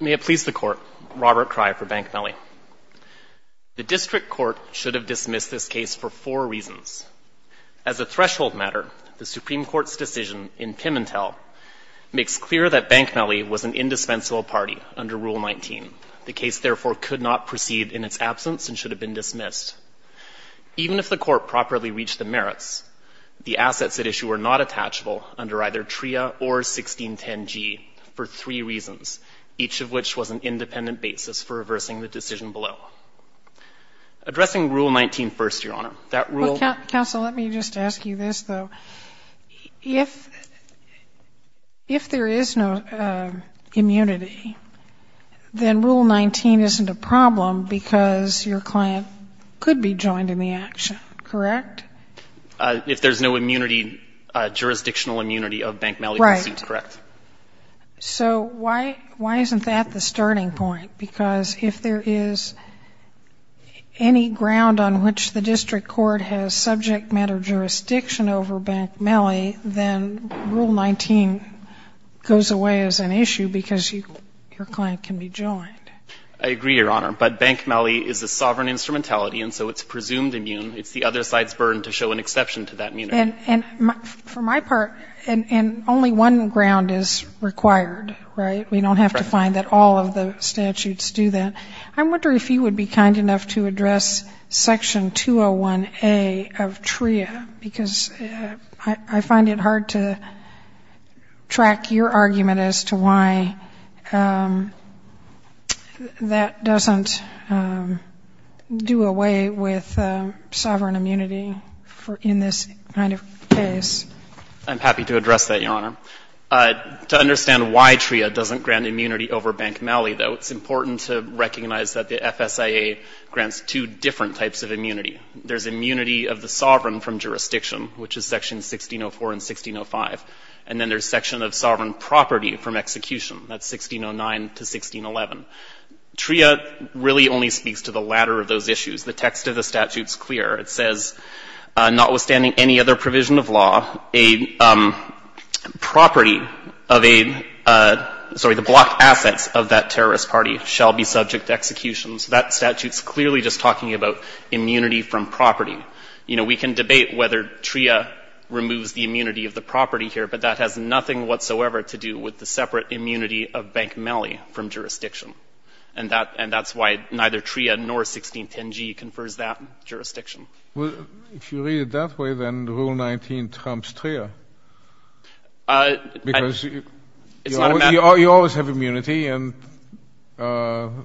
May it please the Court, Robert Cry for Bank Melli. The District Court should have dismissed this case for four reasons. As a threshold matter, the Supreme Court's decision in Pimentel makes clear that Bank Melli was an indispensable party under Rule 19. The case, therefore, could not proceed in its absence and should have been dismissed. Even if the Court properly reached the merits, the assets at issue were not attachable under either TRIA or 1610G for three reasons, each of which was an independent basis for reversing the decision below. Addressing Rule 19 first, Your Honor, that Rule 19. Sotomayor, counsel, let me just ask you this, though. If there is no immunity, then Rule 19 isn't a problem because your client could be joined in the action, correct? If there's no immunity, jurisdictional immunity of Bank Melli, I see, correct. Right. So why isn't that the starting point? Because if there is any ground on which the District Court has subject matter jurisdiction over Bank Melli, then Rule 19 goes away as an issue because your client can be joined. I agree, Your Honor. But Bank Melli is a sovereign instrumentality, and so it's presumed immune. It's the other side's burden to show an exception to that immunity. And for my part, and only one ground is required, right? We don't have to find that all of the statutes do that. I'm wondering if you would be kind enough to address Section 201A of TRIA, because I find it hard to track your argument as to why that doesn't do away with sovereign immunity in this kind of case. I'm happy to address that, Your Honor. To understand why TRIA doesn't grant immunity over Bank Melli, though, it's important to recognize that the FSIA grants two different types of immunity. There's immunity of the sovereign from jurisdiction, which is Section 1604 and 1605. And then there's section of sovereign property from execution. That's 1609 to 1611. TRIA really only speaks to the latter of those issues. The text of the statute is clear. It says, notwithstanding any other provision of law, a property of a, sorry, the block assets of that terrorist party shall be subject to execution. So that statute's clearly just talking about immunity from property. You know, we can debate whether TRIA removes the immunity of the property here, but that has nothing whatsoever to do with the separate immunity of Bank Melli from jurisdiction. And that's why neither TRIA nor 1610g confers that jurisdiction. Well, if you read it that way, then Rule 19 trumps TRIA. Because you always have immunity and you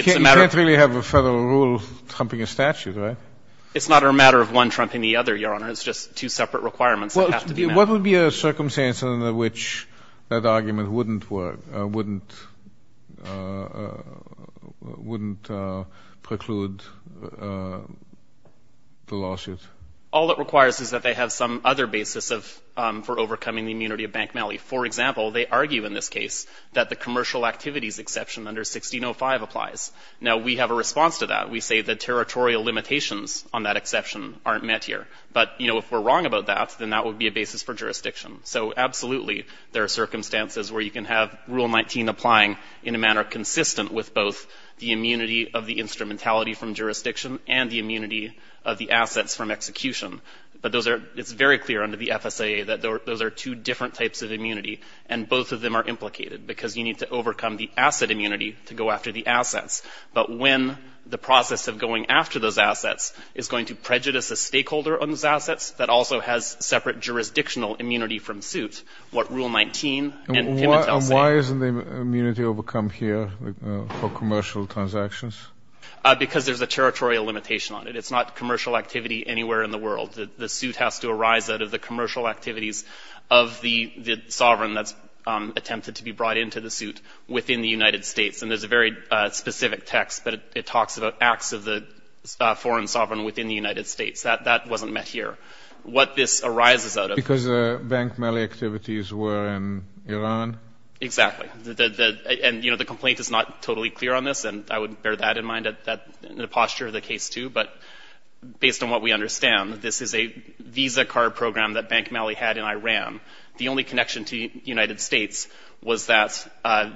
can't really have a Federal rule trumping a statute, right? It's not a matter of one trumping the other, Your Honor. What would be a circumstance in which that argument wouldn't work, wouldn't preclude the lawsuit? All it requires is that they have some other basis for overcoming the immunity of Bank Melli. For example, they argue in this case that the commercial activities exception under 1605 applies. Now, we have a response to that. We say the territorial limitations on that exception aren't met here. But, you know, if we're wrong about that, then that would be a basis for jurisdiction. So, absolutely, there are circumstances where you can have Rule 19 applying in a manner consistent with both the immunity of the instrumentality from jurisdiction and the immunity of the assets from execution. But those are, it's very clear under the FSAA that those are two different types of immunity. And both of them are implicated because you need to overcome the asset immunity to go after the assets. But when the process of going after those assets is going to prejudice a stakeholder on those assets that also has separate jurisdictional immunity from suit, what Rule 19 and Pimitel say. And why isn't the immunity overcome here for commercial transactions? Because there's a territorial limitation on it. It's not commercial activity anywhere in the world. The suit has to arise out of the commercial activities of the sovereign that's attempted to be brought into the suit within the United States. And there's a very specific text, but it talks about acts of the foreign sovereign within the United States. That wasn't met here. What this arises out of. Because the Bank Mali activities were in Iran? Exactly. And, you know, the complaint is not totally clear on this. And I would bear that in mind, the posture of the case, too. But based on what we understand, this is a Visa card program that Bank Mali had in Iran. The only connection to the United States was that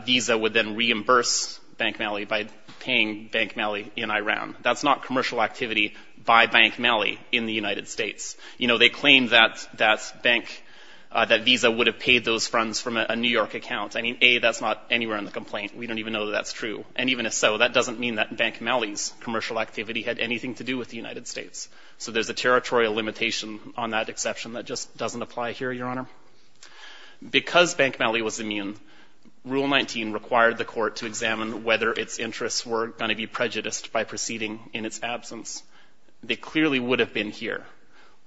Visa would then reimburse Bank Mali by paying Bank Mali in Iran. That's not commercial activity by Bank Mali in the United States. You know, they claim that that bank, that Visa would have paid those funds from a New York account. I mean, A, that's not anywhere in the complaint. We don't even know that that's true. And even if so, that doesn't mean that Bank Mali's commercial activity had anything to do with the United States. So there's a territorial limitation on that exception that just doesn't apply here, Your Honor. Because Bank Mali was immune, Rule 19 required the court to examine whether its interests were going to be prejudiced by proceeding in its absence. They clearly would have been here.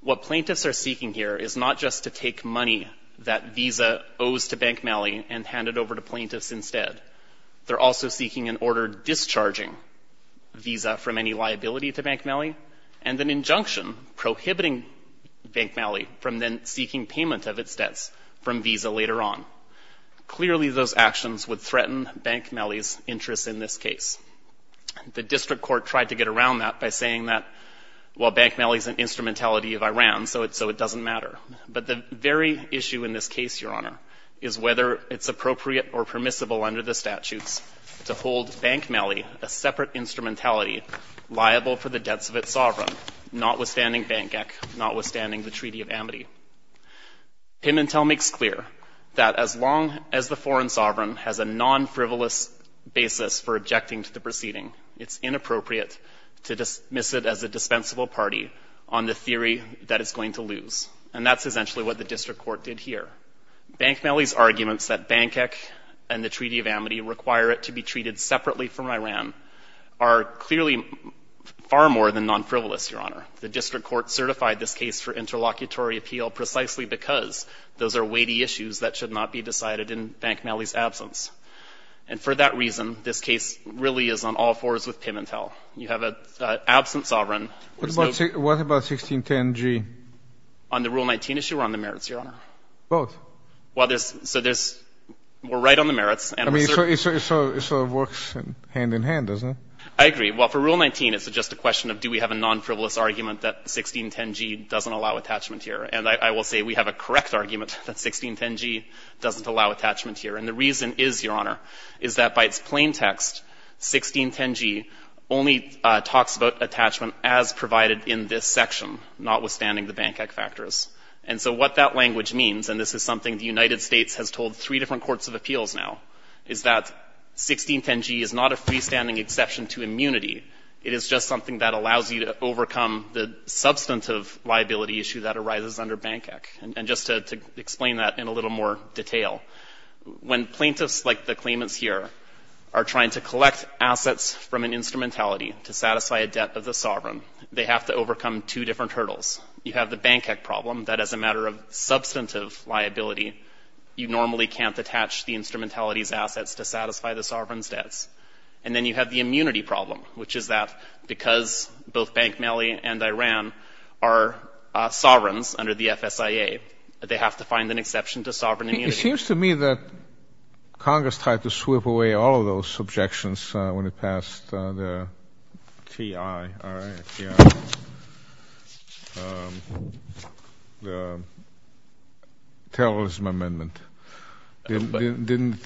What plaintiffs are seeking here is not just to take money that Visa owes to Bank Mali and hand it over to plaintiffs instead. They're also seeking an order discharging Visa from any liability to Bank Mali and an instrumentality of Iran so it doesn't matter. Clearly, those actions would threaten Bank Mali's interests in this case. The district court tried to get around that by saying that, well, Bank Mali's an instrumentality of Iran, so it doesn't matter. But the very issue in this case, Your Honor, is whether it's appropriate or permissible under the statutes to hold Bank Mali a separate instrumentality liable for the debts of its sovereign, notwithstanding Bank Ghek, notwithstanding the Treaty of Amity. Pimentel makes clear that as long as the foreign sovereign has a non-frivolous basis for objecting to the proceeding, it's inappropriate to dismiss it as a dispensable party on the theory that it's going to lose. And that's essentially what the district court did here. Bank Mali's arguments that Bank Ghek and the Treaty of Amity require it to be treated separately from Iran are clearly far more than non-frivolous, Your Honor. The district court certified this case for interlocutory appeal precisely because those are weighty issues that should not be decided in Bank Mali's absence. And for that reason, this case really is on all fours with Pimentel. You have an absent sovereign. What about 1610G? On the Rule 19 issue or on the merits, Your Honor? Both. Well, there's – so there's – we're right on the merits. I mean, so it sort of works hand in hand, doesn't it? I agree. Well, for Rule 19, it's just a question of do we have a non-frivolous argument that 1610G doesn't allow attachment here. And I will say we have a correct argument that 1610G doesn't allow attachment here. And the reason is, Your Honor, is that by its plain text, 1610G only talks about attachment as provided in this section, notwithstanding the Bank Ghek factors. And so what that language means, and this is something the United States has told three different courts of appeals now, is that 1610G is not a freestanding exception to immunity. It is just something that allows you to overcome the substantive liability issue that arises under Bank Ghek. And just to explain that in a little more detail, when plaintiffs, like the claimants here, are trying to collect assets from an instrumentality to satisfy a debt of the sovereign, they have to overcome two different hurdles. You have the Bank Ghek problem that as a matter of substantive liability, you debts. And then you have the immunity problem, which is that because both Bank Mali and Iran are sovereigns under the FSIA, they have to find an exception to sovereign immunity. It seems to me that Congress tried to sweep away all of those objections when it passed the T.I. All right. T.I. The Terrorism Amendment. It didn't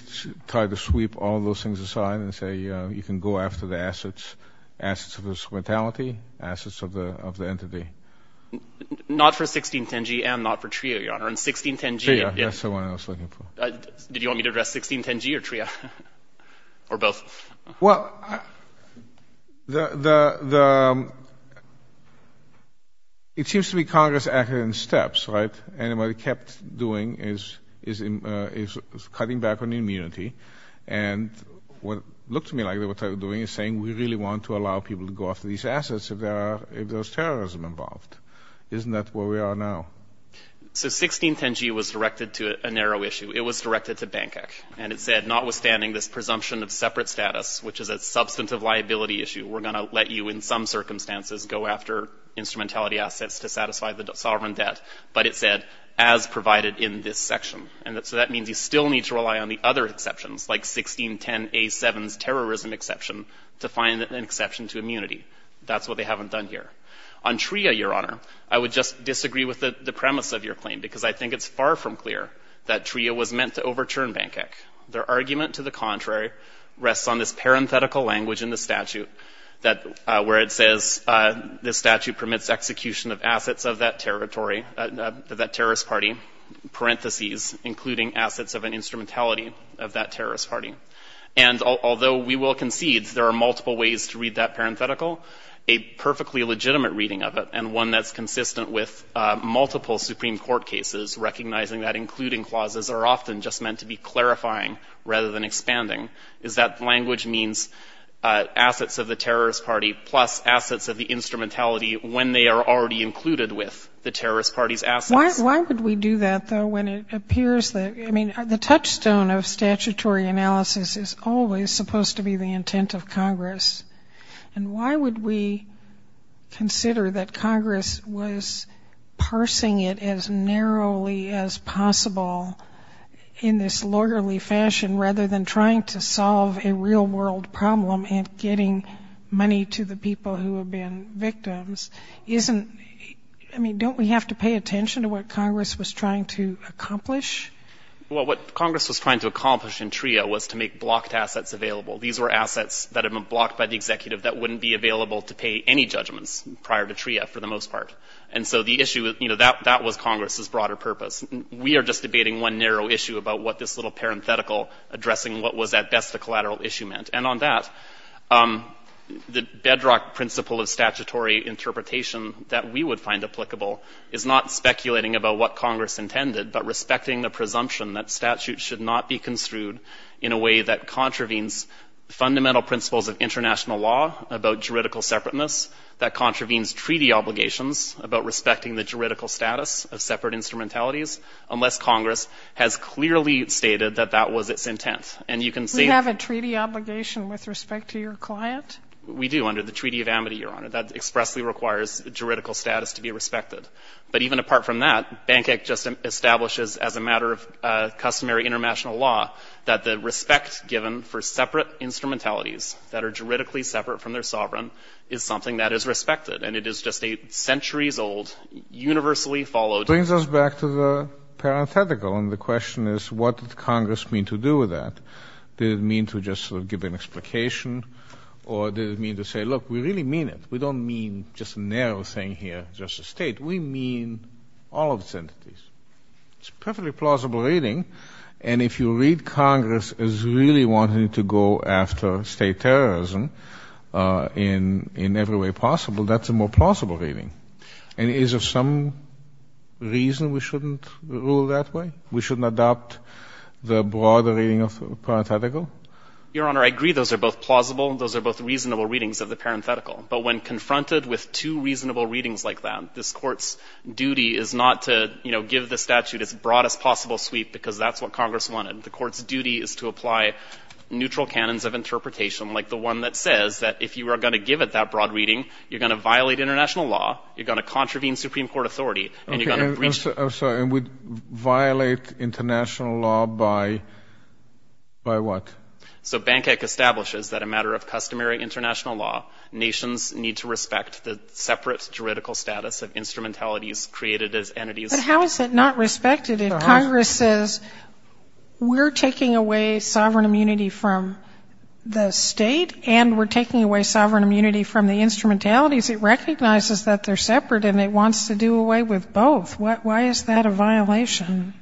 try to sweep all of those things aside and say you can go after the assets, assets of the instrumentality, assets of the entity. Not for 1610G and not for TRIA, Your Honor. And 1610G — TRIA, that's the one I was looking for. Did you want me to address 1610G or TRIA? Or both? Well, the — it seems to me Congress acted in steps, right? And what it kept doing is cutting back on immunity. And what it looked to me like they were doing is saying we really want to allow people to go after these assets if there's terrorism involved. Isn't that where we are now? So 1610G was directed to a narrow issue. It was directed to Bank Ghek. And it said notwithstanding this presumption of separate status, which is a substantive liability issue, we're going to let you in some circumstances go after instrumentality assets to satisfy the sovereign debt. But it said, as provided in this section. And so that means you still need to rely on the other exceptions, like 1610A7's terrorism exception, to find an exception to immunity. That's what they haven't done here. On TRIA, Your Honor, I would just disagree with the premise of your claim, because I think it's far from clear that TRIA was meant to overturn Bank Ghek. Their argument to the contrary rests on this parenthetical language in the statute that — where it says the statute permits execution of assets of that territory, that terrorist party, parentheses, including assets of an instrumentality of that terrorist party. And although we will concede there are multiple ways to read that parenthetical, a perfectly legitimate reading of it, and one that's consistent with multiple Supreme Court cases recognizing that including clauses are often just meant to be clarifying rather than expanding, is that language means assets of the terrorist party plus assets of the instrumentality when they are already included with the terrorist party's assets? Why would we do that, though, when it appears that — I mean, the touchstone of statutory analysis is always supposed to be the intent of Congress. And why would we consider that Congress was parsing it as narrowly as possible in this lawyerly fashion, rather than trying to solve a real-world problem and getting money to the people who have been victims? Isn't — I mean, don't we have to pay attention to what Congress was trying to accomplish? Well, what Congress was trying to accomplish in TRIA was to make blocked assets available. These were assets that had been blocked by the executive that wouldn't be available to pay any judgments prior to TRIA, for the most part. And so the issue — you know, that was Congress's broader purpose. We are just debating one narrow issue about what this little parenthetical addressing what was at best a collateral issue meant. And on that, the bedrock principle of statutory interpretation that we would find applicable is not speculating about what Congress intended, but respecting the presumption that statutes should not be construed in a way that contravenes fundamental principles of international law about juridical separateness, that contravenes treaty obligations about respecting the juridical status of separate instrumentalities, unless Congress has clearly stated that that was its intent. And you can see — Do you have a treaty obligation with respect to your client? We do, under the Treaty of Amity, Your Honor. That expressly requires juridical status to be respected. But even apart from that, Bank Act just establishes as a matter of customary international law that the respect given for separate instrumentalities that are juridically separate from their sovereign is something that is respected. And it is just a centuries-old, universally followed — It brings us back to the parenthetical, and the question is, what did Congress mean to do with that? Did it mean to just sort of give an explication, or did it mean to say, look, we really mean it. We don't mean just a narrow thing here, just a state. We mean all of its entities. It's a perfectly plausible reading. And if you read Congress as really wanting to go after state terrorism in every way possible, that's a more plausible reading. And is there some reason we shouldn't rule that way? We shouldn't adopt the broader reading of the parenthetical? Your Honor, I agree those are both plausible and those are both reasonable readings of the parenthetical. But when confronted with two reasonable readings like that, this Court's duty is not to, you know, give the statute its broadest possible sweep because that's what Congress wanted. The Court's duty is to apply neutral canons of interpretation, like the one that says that if you are going to give it that broad reading, you're going to violate international law, you're going to contravene Supreme Court authority, and you're going to breach — I'm sorry, and would violate international law by what? So Bank Act establishes that a matter of customary international law, nations need to respect the separate juridical status of instrumentalities created as entities — But how is it not respected? If Congress says, we're taking away sovereign immunity from the state and we're taking away sovereign immunity from the instrumentalities, it recognizes that they're separate and it wants to do away with both. Why is that a violation?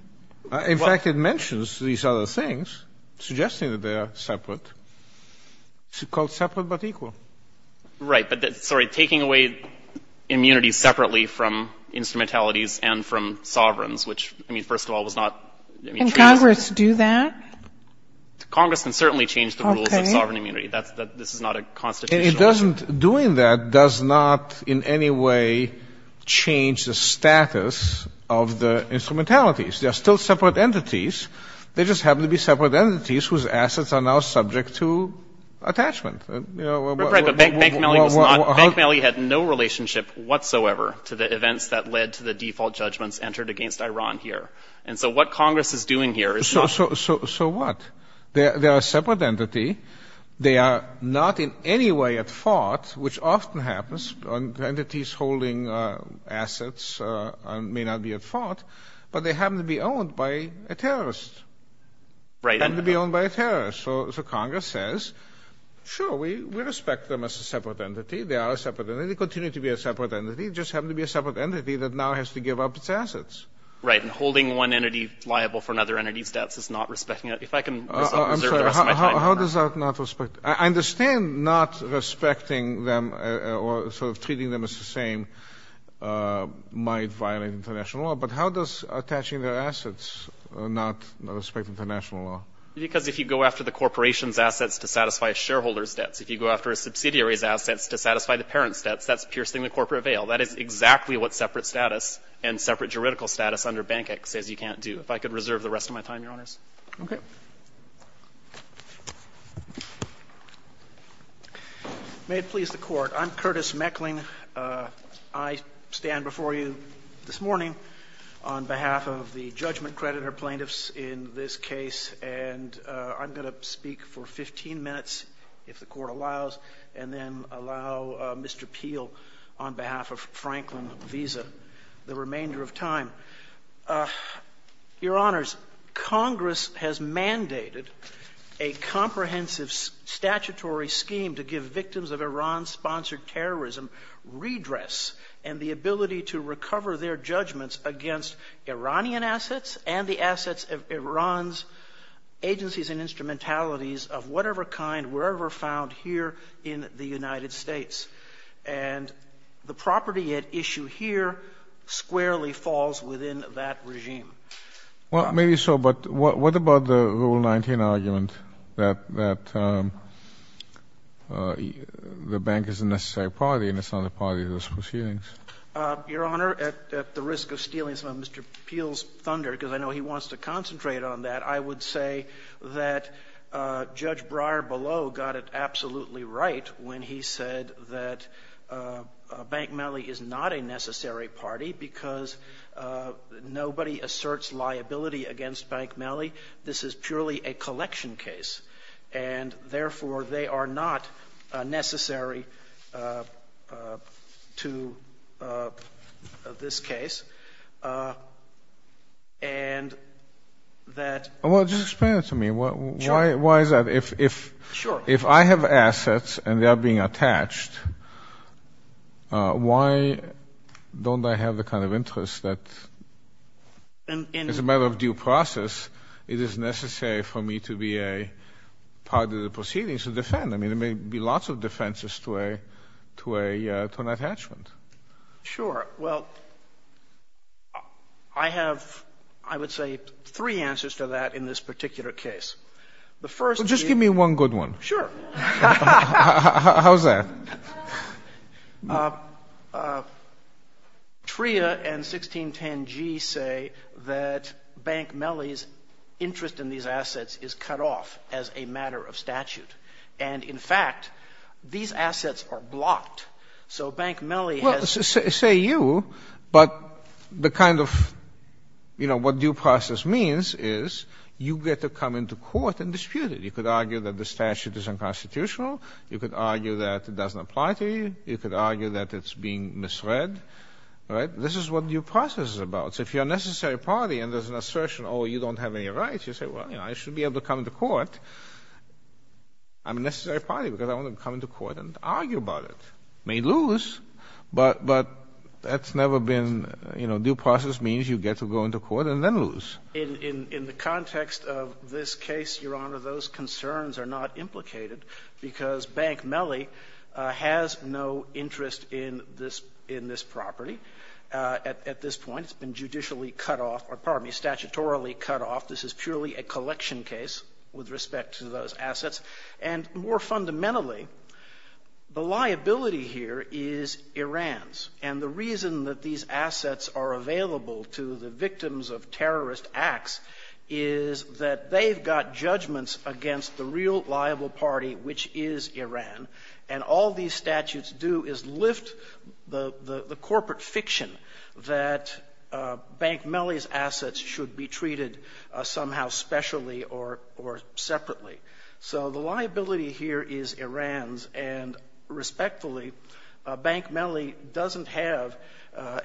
In fact, it mentions these other things, suggesting that they are separate. It's called separate but equal. Right. But, sorry, taking away immunity separately from instrumentalities and from sovereigns, which, I mean, first of all, was not — Can Congress do that? Congress can certainly change the rules of sovereign immunity. That's — this is not a constitutional — It doesn't — doing that does not in any way change the status of the instrumentalities. They're still separate entities. They just happen to be separate entities whose assets are now subject to attachment. Right, but Bank Malley was not — Bank Malley had no relationship whatsoever to the events that led to the default judgments entered against Iran here. And so what Congress is doing here is not — So what? They are a separate entity. They are not in any way at fault, which often happens on entities holding assets and may not be at fault, but they happen to be owned by a terrorist. Right. They happen to be owned by a terrorist. So Congress says, sure, we respect them as a separate entity. They are a separate entity. They continue to be a separate entity. They just happen to be a separate entity that now has to give up its assets. Right. And holding one entity liable for another entity's debts is not respecting it. If I can reserve the rest of my time. Well, how does that not respect — I understand not respecting them or sort of treating them as the same might violate international law, but how does attaching their assets not respect international law? Because if you go after the corporation's assets to satisfy a shareholder's debts, if you go after a subsidiary's assets to satisfy the parent's debts, that's piercing the corporate veil. That is exactly what separate status and separate juridical status under Bank X says you can't do. If I could reserve the rest of my time, Your Honors. Okay. May it please the Court. I'm Curtis Meckling. I stand before you this morning on behalf of the judgment creditor plaintiffs in this case, and I'm going to speak for 15 minutes, if the Court allows, and then allow Mr. Peel, on behalf of Franklin Visa, the remainder of time. Your Honors, Congress has mandated a comprehensive statutory scheme to give victims of Iran-sponsored terrorism redress and the ability to recover their judgments against Iranian assets and the assets of Iran's agencies and instrumentalities of whatever kind were ever found here in the United States. And the property at issue here squarely falls within that regime. Well, maybe so, but what about the Rule 19 argument that the bank is a necessary party and it's not a party to those proceedings? Your Honor, at the risk of stealing some of Mr. Peel's thunder, because I know he wants to concentrate on that, I would say that Judge Breyer below got it absolutely right when he said that Bank Mellie is not a necessary party because nobody asserts liability against Bank Mellie. This is purely a collection case, and therefore, they are not necessary to this case. And that... Well, just explain it to me. Sure. Why is that? Sure. If I have assets and they are being attached, why don't I have the kind of interest that as a matter of due process, it is necessary for me to be a part of the proceedings to defend? I mean, there may be lots of defenses to an attachment. Sure. Well, I have, I would say, three answers to that in this particular case. The first is... Sure. How's that? TRIA and 1610G say that Bank Mellie's interest in these assets is cut off as a matter of statute. And, in fact, these assets are blocked. So Bank Mellie has... Well, say you, but the kind of, you know, what due process means is you get to come into court and dispute it. You could argue that the statute is unconstitutional. You could argue that it doesn't apply to you. You could argue that it's being misread. Right? This is what due process is about. So if you're a necessary party and there's an assertion, oh, you don't have any rights, you say, well, you know, I should be able to come into court. I'm a necessary party because I want to come into court and argue about it. May lose, but that's never been, you know, due process means you get to go into court and then lose. In the context of this case, Your Honor, those concerns are not implicated, because Bank Mellie has no interest in this property at this point. It's been judicially cut off or, pardon me, statutorily cut off. This is purely a collection case with respect to those assets. And more fundamentally, the liability here is Iran's. And the reason that these assets are available to the victims of terrorist acts is that they've got judgments against the real liable party, which is Iran. And all these statutes do is lift the corporate fiction that Bank Mellie's assets should be treated somehow specially or separately. So the liability here is Iran's. And respectfully, Bank Mellie doesn't have an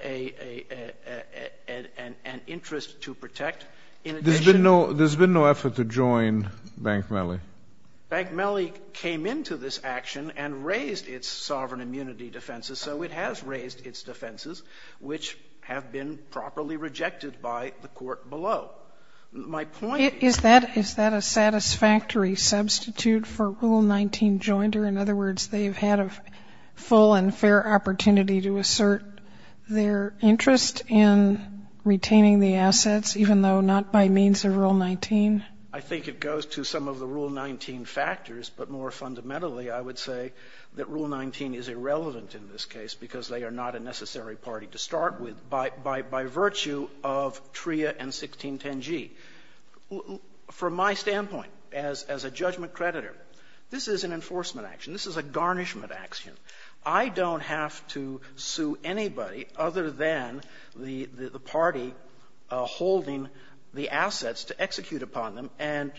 interest to protect. There's been no effort to join Bank Mellie? Bank Mellie came into this action and raised its sovereign immunity defenses. So it has raised its defenses, which have been properly rejected by the court below. My point is that is that a satisfactory substitute for Rule 19 jointer? In other words, they've had a full and fair opportunity to assert their interest in retaining the assets, even though not by means of Rule 19? I think it goes to some of the Rule 19 factors. But more fundamentally, I would say that Rule 19 is irrelevant in this case, because they are not a necessary party to start with by virtue of TRIA and 1610g. From my standpoint as a judgment creditor, this is an enforcement action. This is a garnishment action. I don't have to sue anybody other than the party holding the assets to execute upon them, and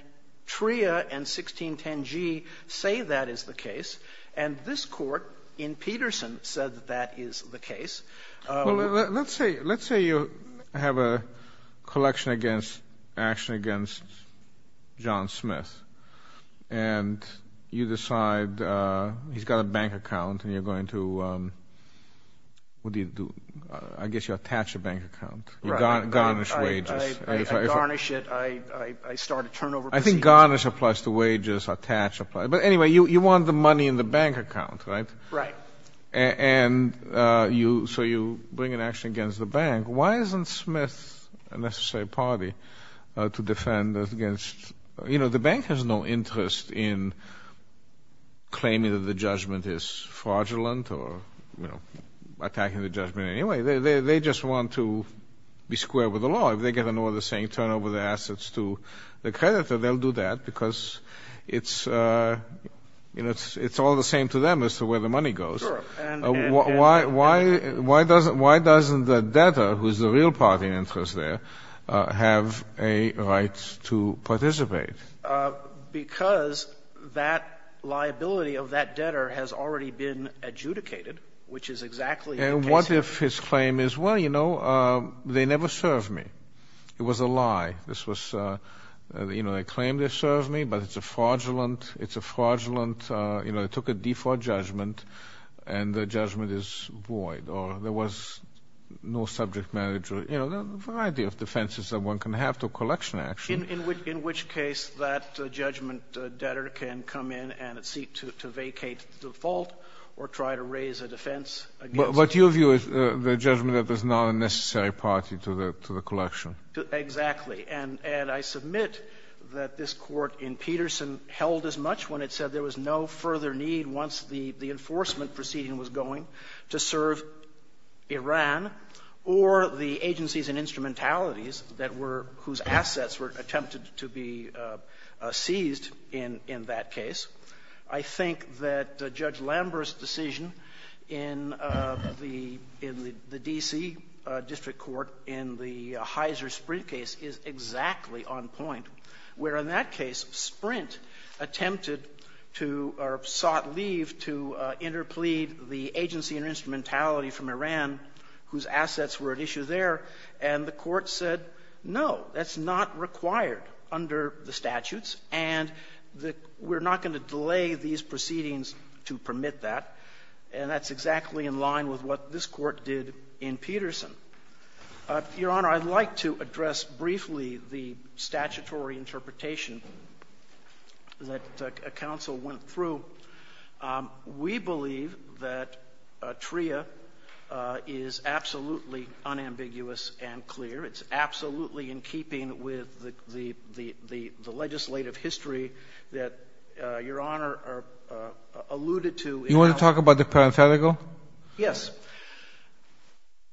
TRIA and 1610g say that is the case. And this court in Peterson said that that is the case. Well, let's say you have a collection against, action against John Smith, and you decide he's got a bank account and you're going to, what do you do? I guess you attach a bank account. You garnish wages. I garnish it. I start a turnover procedure. I think garnish applies to wages. Attach applies. But anyway, you want the money in the bank account, right? Right. And so you bring an action against the bank. Why isn't Smith a necessary party to defend against? You know, the bank has no interest in claiming that the judgment is fraudulent or attacking the judgment in any way. They just want to be square with the law. If they get an order saying turn over the assets to the creditor, they'll do that because it's all the same to them as to where the money goes. Sure. Why doesn't the debtor, who is the real party in interest there, have a right to participate? Because that liability of that debtor has already been adjudicated, which is exactly the case here. And what if his claim is, well, you know, they never served me. It was a lie. This was, you know, they claim they served me, but it's a fraudulent, it's a fraudulent, you know, they took a default judgment and the judgment is void or there was no subject manager. You know, there are a variety of defenses that one can have to a collection action. In which case that judgment debtor can come in and seek to vacate the default or try to raise a defense against. But your view is the judgment that there's not a necessary party to the collection. Exactly. And I submit that this Court in Peterson held as much when it said there was no further need once the enforcement proceeding was going to serve Iran or the agencies and instrumentalities that were, whose assets were attempted to be seized in that case. I think that Judge Lambert's decision in the D.C. District Court in the Heizer-Sprint case is exactly on point. Where in that case, Sprint attempted to or sought leave to interplead the agency and instrumentality from Iran whose assets were at issue there. And the Court said, no, that's not required under the statutes, and we're not going to delay these proceedings to permit that. And that's exactly in line with what this Court did in Peterson. Your Honor, I'd like to address briefly the statutory interpretation that counsel went through. We believe that TRIA is absolutely unambiguous and clear. It's absolutely in keeping with the legislative history that Your Honor alluded to. You want to talk about the parenthetical? Yes.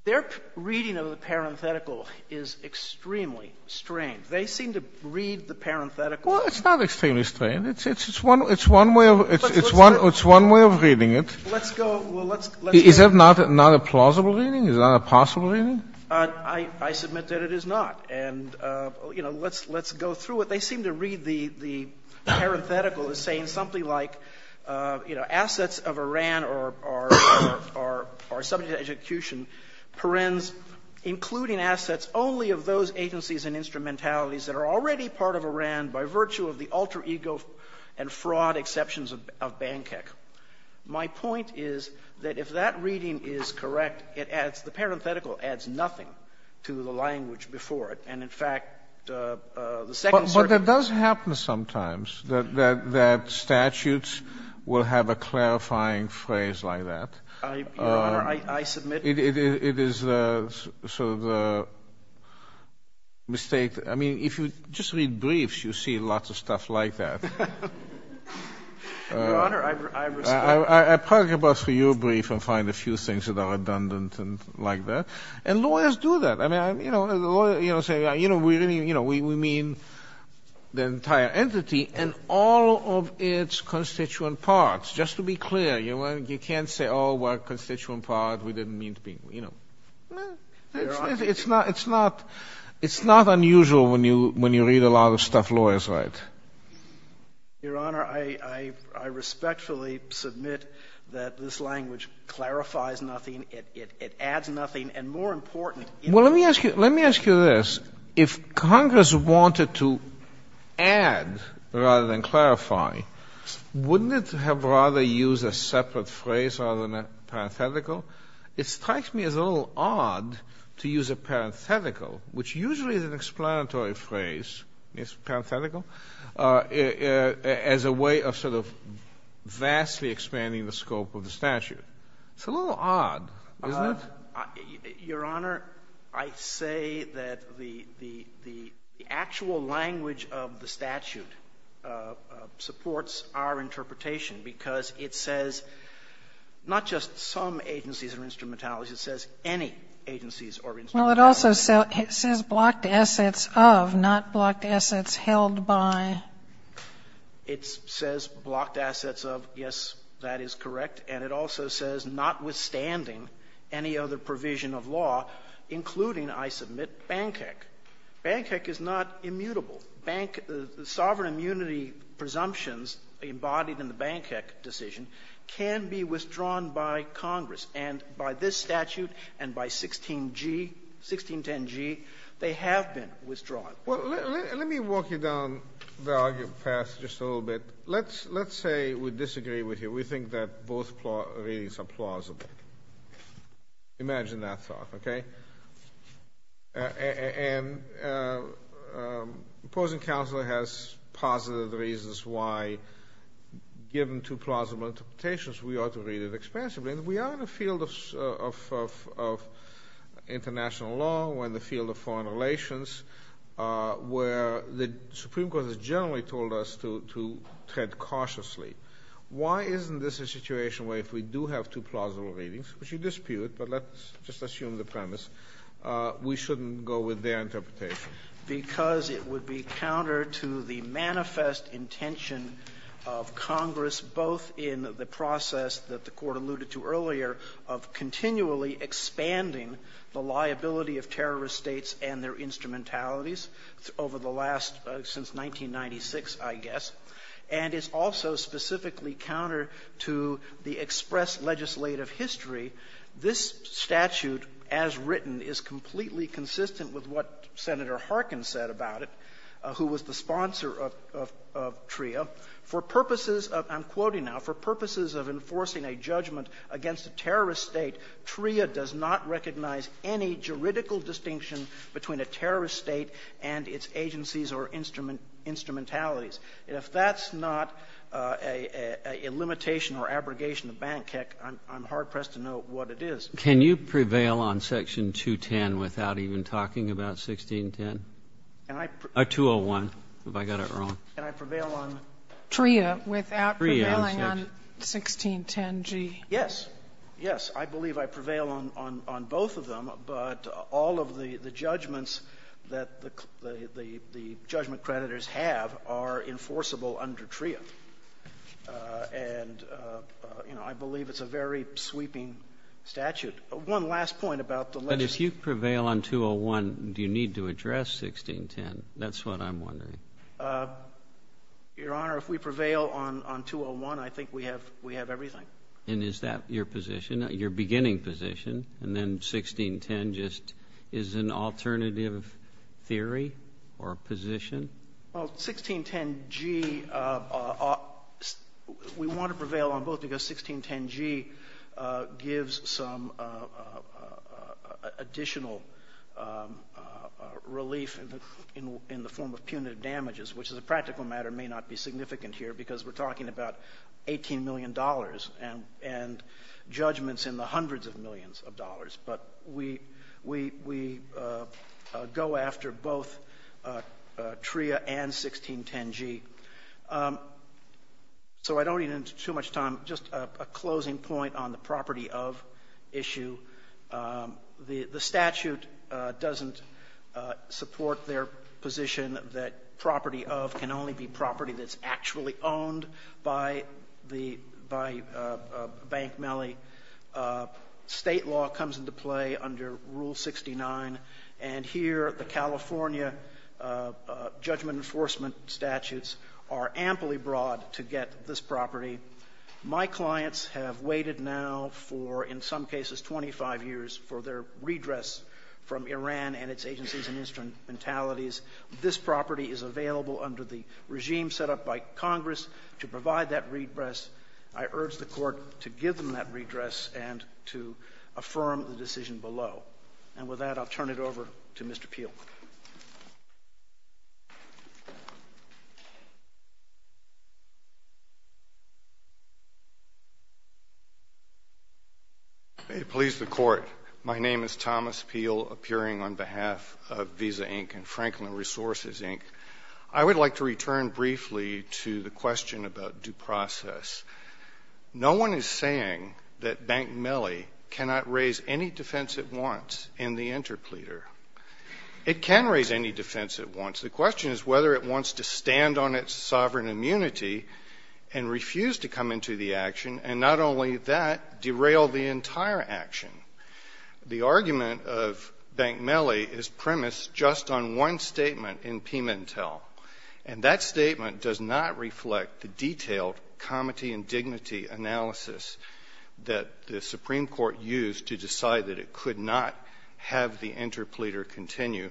Their reading of the parenthetical is extremely strange. They seem to read the parenthetical. Well, it's not extremely strange. It's one way of reading it. Is that not a plausible reading? Is that a possible reading? I submit that it is not. And, you know, let's go through it. They seem to read the parenthetical as saying something like, you know, that the assets of Iran are subject to execution, perens, including assets only of those agencies and instrumentalities that are already part of Iran by virtue of the alter ego and fraud exceptions of Bankhek. My point is that if that reading is correct, it adds the parenthetical adds nothing to the language before it. And, in fact, the second certainty of the reading is that it is not. Your Honor, I submit. It is sort of a mistake. I mean, if you just read briefs, you see lots of stuff like that. Your Honor, I respect. I'll probably go back through your brief and find a few things that are redundant and like that. And lawyers do that. I mean, you know, the lawyer, you know, saying, you know, we really, you know, we mean the entire entity and all of its constituent parts. Just to be clear, you know, you can't say, oh, we're a constituent part. We didn't mean to be, you know. It's not unusual when you read a lot of stuff lawyers write. Your Honor, I respectfully submit that this language clarifies nothing. It adds nothing. And, more important — Well, let me ask you this. If Congress wanted to add rather than clarify, wouldn't it have rather used a separate phrase rather than a parenthetical? It strikes me as a little odd to use a parenthetical, which usually is an explanatory phrase, as a way of sort of vastly expanding the scope of the statute. It's a little odd, isn't it? Your Honor, I say that the actual language of the statute supports our interpretation, because it says not just some agencies or instrumentalities. It says any agencies or instrumentalities. Well, it also says blocked assets of, not blocked assets held by. It says blocked assets of. Yes, that is correct. And it also says notwithstanding any other provision of law, including, I submit, BANCEC. BANCEC is not immutable. Bank — the sovereign immunity presumptions embodied in the BANCEC decision can be withdrawn by Congress. And by this statute and by 16g, 1610g, they have been withdrawn. Well, let me walk you down the argument path just a little bit. Let's say we disagree with you. We think that both readings are plausible. Imagine that thought, okay? And opposing counsel has positive reasons why, given two plausible interpretations, we ought to read it expansively. And we are in a field of international law. We're in the field of foreign relations, where the Supreme Court has generally told us to tread cautiously. Why isn't this a situation where if we do have two plausible readings, which you dispute, but let's just assume the premise, we shouldn't go with their interpretation? Because it would be counter to the manifest intention of Congress, both in the process that the Court alluded to earlier of continually expanding the liability of terrorist states and their instrumentalities over the last — since 1996, I guess. And it's also specifically counter to the express legislative history. This statute, as written, is completely consistent with what Senator Harkin said about it, who was the sponsor of — of TRIA. For purposes of — I'm quoting now. For purposes of enforcing a judgment against a terrorist state, TRIA does not recognize any juridical distinction between a terrorist state and its agencies or instrumentalities. And if that's not a limitation or abrogation of BANC, heck, I'm hard-pressed to know what it is. Kennedy. Can you prevail on Section 210 without even talking about 1610? Or 201, if I got it wrong. Sotomayor. Can I prevail on TRIA without prevailing on 1610G? Kennedy. Yes. Yes. I believe I prevail on both of them, but all of the judgments that the judgment creditors have are enforceable under TRIA. And, you know, I believe it's a very sweeping statute. One last point about the — But if you prevail on 201, do you need to address 1610? That's what I'm wondering. Your Honor, if we prevail on 201, I think we have — we have everything. And is that your position, your beginning position? And then 1610 just is an alternative theory or position? Well, 1610G — we want to prevail on both because 1610G gives some additional relief in the form of punitive damages, which as a practical matter may not be significant here because we're talking about $18 million and judgments in the form of dollars. But we go after both TRIA and 1610G. So I don't need too much time. Just a closing point on the property of issue. The statute doesn't support their position that property of can only be property that's actually owned by the — by a bank melee. State law comes into play under Rule 69. And here the California judgment enforcement statutes are amply broad to get this property. My clients have waited now for, in some cases, 25 years for their redress from Iran and its agencies and instrumentalities. This property is available under the regime set up by Congress to provide that redress. I urge the Court to give them that redress and to affirm the decision below. And with that, I'll turn it over to Mr. Peel. May it please the Court. My name is Thomas Peel, appearing on behalf of Visa, Inc. and Franklin Resources, Inc. I would like to return briefly to the question about due process. No one is saying that bank melee cannot raise any defense it wants in the interpleader. It can raise any defense it wants. The question is whether it wants to stand on its sovereign immunity and refuse to The argument of bank melee is premised just on one statement in Pimentel. And that statement does not reflect the detailed comity and dignity analysis that the Supreme Court used to decide that it could not have the interpleader continue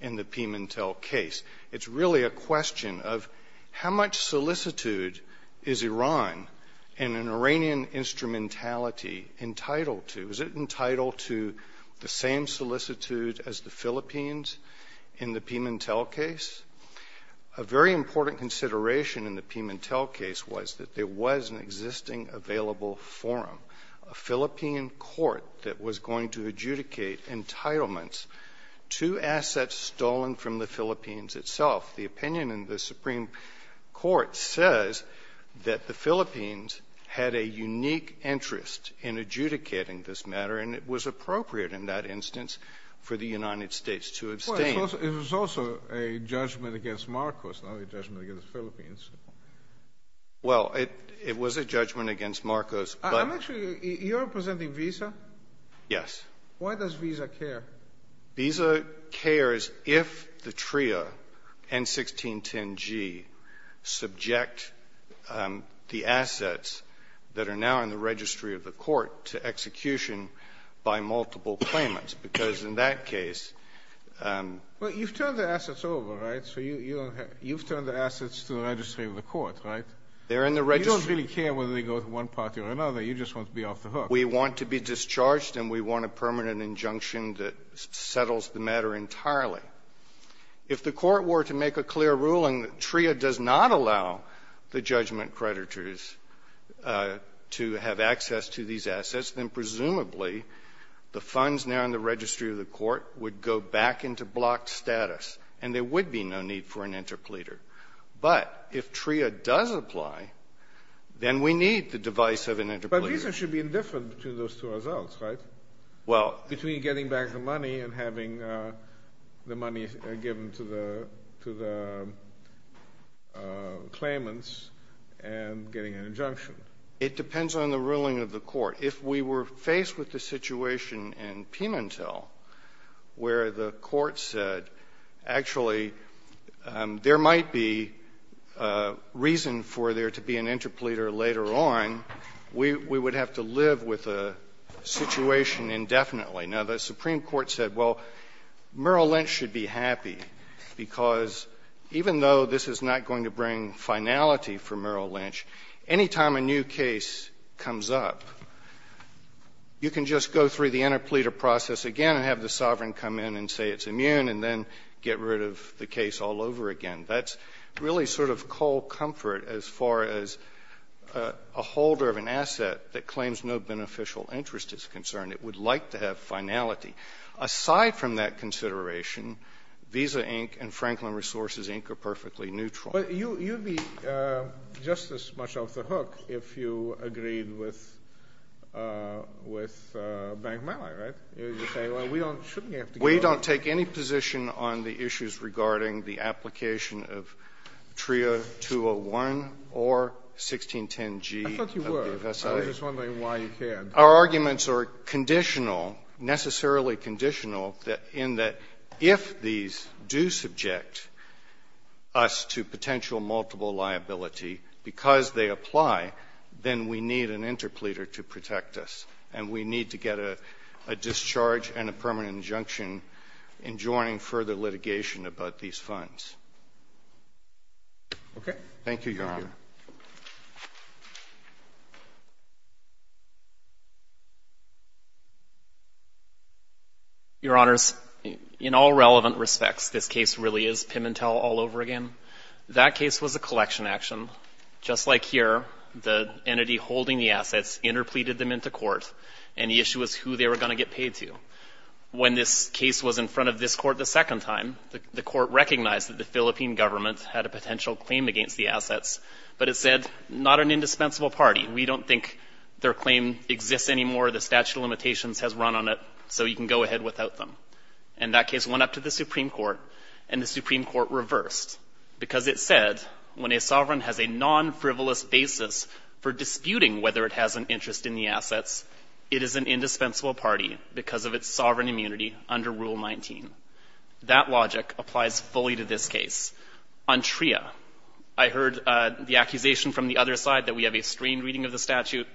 in the Pimentel case. It's really a question of how much solicitude is Iran and an Iranian instrumentality entitled to. Was it entitled to the same solicitude as the Philippines in the Pimentel case? A very important consideration in the Pimentel case was that there was an existing available forum, a Philippine court that was going to adjudicate entitlements to assets stolen from the Philippines itself. The opinion in the Supreme Court says that the Philippines had a unique interest in adjudicating this matter, and it was appropriate in that instance for the United States to abstain. Well, it was also a judgment against Marcos, not a judgment against the Philippines. Well, it was a judgment against Marcos. Actually, you're representing Visa? Yes. Why does Visa care? Visa cares if the TRIA and 1610G subject the assets that are now in the registry of the court to execution by multiple claimants? Because in that case you've turned the assets over, right? So you've turned the assets to the registry of the court, right? They're in the registry. You don't really care whether they go to one party or another. You just want to be off the hook. We want to be discharged, and we want a permanent injunction that settles the matter entirely. If the court were to make a clear ruling that TRIA does not allow the judgment creditors to have access to these assets, then presumably the funds now in the registry of the court would go back into blocked status, and there would be no need for an interpleader. But if TRIA does apply, then we need the device of an interpleader. But Visa should be indifferent to those two results, right? Well — Between getting back the money and having the money given to the claimants, and getting an injunction. It depends on the ruling of the court. If we were faced with the situation in Pimentel where the court said, actually, there might be reason for there to be an interpleader later on, we would have to live with the situation indefinitely. Now, the Supreme Court said, well, Merrill Lynch should be happy because even though this is not going to bring finality for Merrill Lynch, anytime a new case comes up, you can just go through the interpleader process again and have the sovereign come in and say it's immune, and then get rid of the case all over again. That's really sort of cold comfort as far as a holder of an asset that claims no beneficial interest is concerned. It would like to have finality. Aside from that consideration, Visa, Inc. and Franklin Resources, Inc. are perfectly neutral. But you'd be just as much off the hook if you agreed with Bank Malley, right? You're saying, well, we don't — shouldn't we have to go — We don't take any position on the issues regarding the application of TRIA 201 or 1610G. I thought you were. I was just wondering why you cared. Our arguments are conditional, necessarily conditional, in that if these do subject us to potential multiple liability because they apply, then we need an interpleader to protect us, and we need to get a discharge and a permanent injunction in joining further litigation about these funds. Okay. Thank you, Your Honor. Your Honors, in all relevant respects, this case really is Pimentel all over again. That case was a collection action. Just like here, the entity holding the assets interpleaded them into court, and the issue was who they were going to get paid to. When this case was in front of this court the second time, the court recognized that the Philippine government had a potential claim against the assets, and that they were going to get paid to. But it said, not an indispensable party. We don't think their claim exists anymore. The statute of limitations has run on it, so you can go ahead without them. And that case went up to the Supreme Court, and the Supreme Court reversed, because it said when a sovereign has a non-frivolous basis for disputing whether it has an interest in the assets, it is an indispensable party because of its sovereign immunity under Rule 19. That logic applies fully to this case. On TRIA, I heard the accusation from the other side that we have a strained reading of the statute.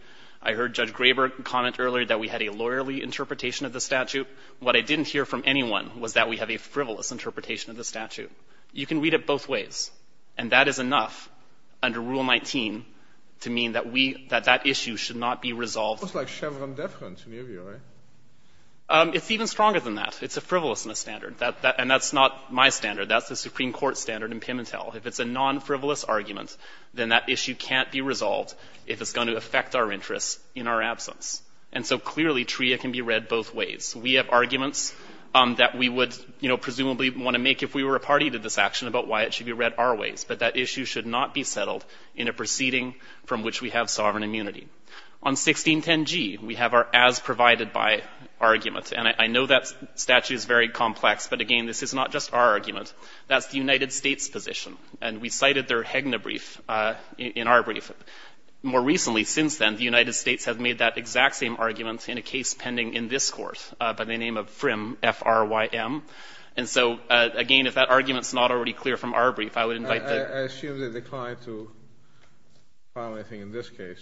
I heard Judge Graber comment earlier that we had a lawyerly interpretation of the statute. What I didn't hear from anyone was that we have a frivolous interpretation of the statute. You can read it both ways. And that is enough under Rule 19 to mean that we, that that issue should not be resolved. It's like Chevron deference in your view, right? It's even stronger than that. It's a frivolousness standard. And that's not my standard. That's the Supreme Court standard in Pimentel. If it's a non-frivolous argument, then that issue can't be resolved if it's going to affect our interests in our absence. And so clearly TRIA can be read both ways. We have arguments that we would, you know, presumably want to make if we were a party to this action about why it should be read our ways. But that issue should not be settled in a proceeding from which we have sovereign immunity. On 1610g, we have our as provided by argument. And I know that statute is very complex. But again, this is not just our argument. That's the United States' position. And we cited their Hegner brief in our brief. More recently since then, the United States has made that exact same argument in a case pending in this Court by the name of Frim, F-R-Y-M. And so, again, if that argument is not already clear from our brief, I would invite the ---- I assume they declined to file anything in this case.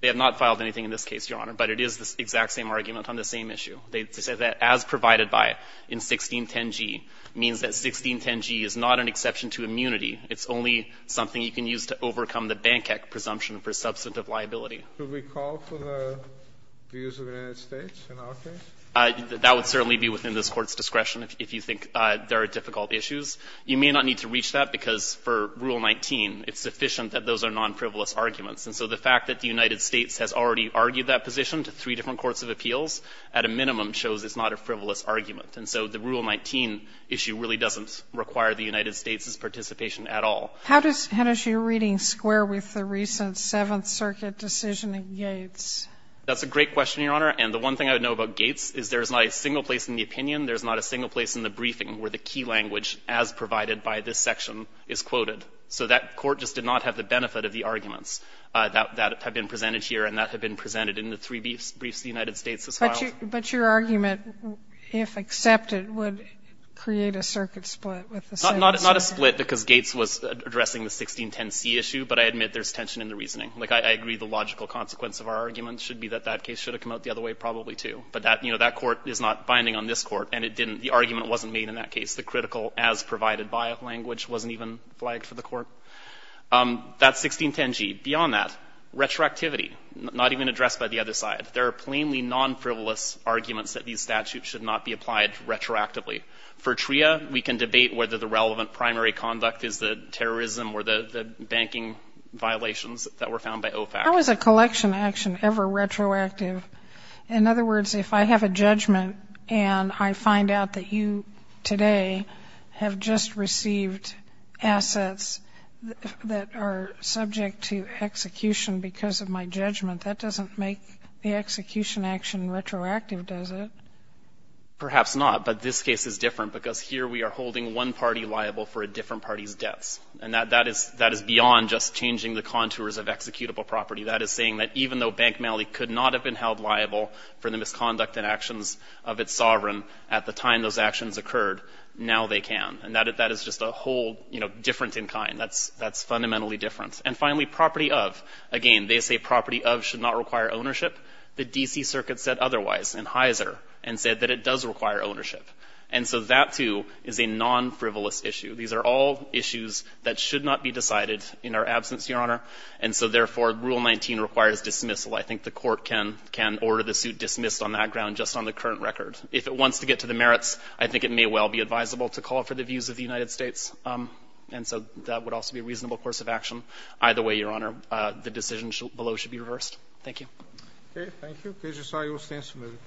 They have not filed anything in this case, Your Honor. But it is the exact same argument on the same issue. They said that as provided by in 1610g means that 1610g is not an exception to immunity. It's only something you can use to overcome the Bank Act presumption for substantive liability. Kennedy, do we call for the views of the United States in our case? That would certainly be within this Court's discretion if you think there are difficult issues. You may not need to reach that because for Rule 19, it's sufficient that those are non-frivolous arguments. And so the fact that the United States has already argued that position to three different courts of appeals, at a minimum, shows it's not a frivolous argument. And so the Rule 19 issue really doesn't require the United States' participation at all. How does your reading square with the recent Seventh Circuit decision in Gates? That's a great question, Your Honor. And the one thing I would know about Gates is there's not a single place in the opinion, there's not a single place in the briefing where the key language as provided by this section is quoted. So that Court just did not have the benefit of the arguments that have been presented here and that have been presented in the three briefs the United States has filed. But your argument, if accepted, would create a circuit split with the Seventh Circuit. Not a split because Gates was addressing the 1610C issue, but I admit there's tension in the reasoning. Like, I agree the logical consequence of our argument should be that that case should have come out the other way probably, too. But that, you know, that Court is not binding on this Court and it didn't, the argument wasn't made in that case. The critical as provided by language wasn't even flagged for the Court. That's 1610G. Beyond that, retroactivity, not even addressed by the other side. There are plainly non-frivolous arguments that these statutes should not be applied retroactively. For TRIA, we can debate whether the relevant primary conduct is the terrorism or the banking violations that were found by OFAC. How is a collection action ever retroactive? In other words, if I have a judgment and I find out that you today have just received assets that are subject to execution because of my judgment, that doesn't make the execution action retroactive, does it? Perhaps not. But this case is different because here we are holding one party liable for a different party's debts. And that is beyond just changing the contours of executable property. That is saying that even though Bank Malley could not have been held liable for the misconduct and actions of its sovereign at the time those actions occurred, now they can. And that is just a whole, you know, different in kind. That's fundamentally different. And finally, property of. Again, they say property of should not require ownership. The D.C. Circuit said otherwise in Heiser and said that it does require ownership. And so that, too, is a non-frivolous issue. These are all issues that should not be decided in our absence, Your Honor. And so, therefore, Rule 19 requires dismissal. I think the Court can order the suit dismissed on that ground just on the current record. If it wants to get to the merits, I think it may well be advisable to call for the views of the United States. And so that would also be a reasonable course of action. Either way, Your Honor, the decision below should be reversed. Thank you. Okay. Thank you. Judge Osayio stands submitted.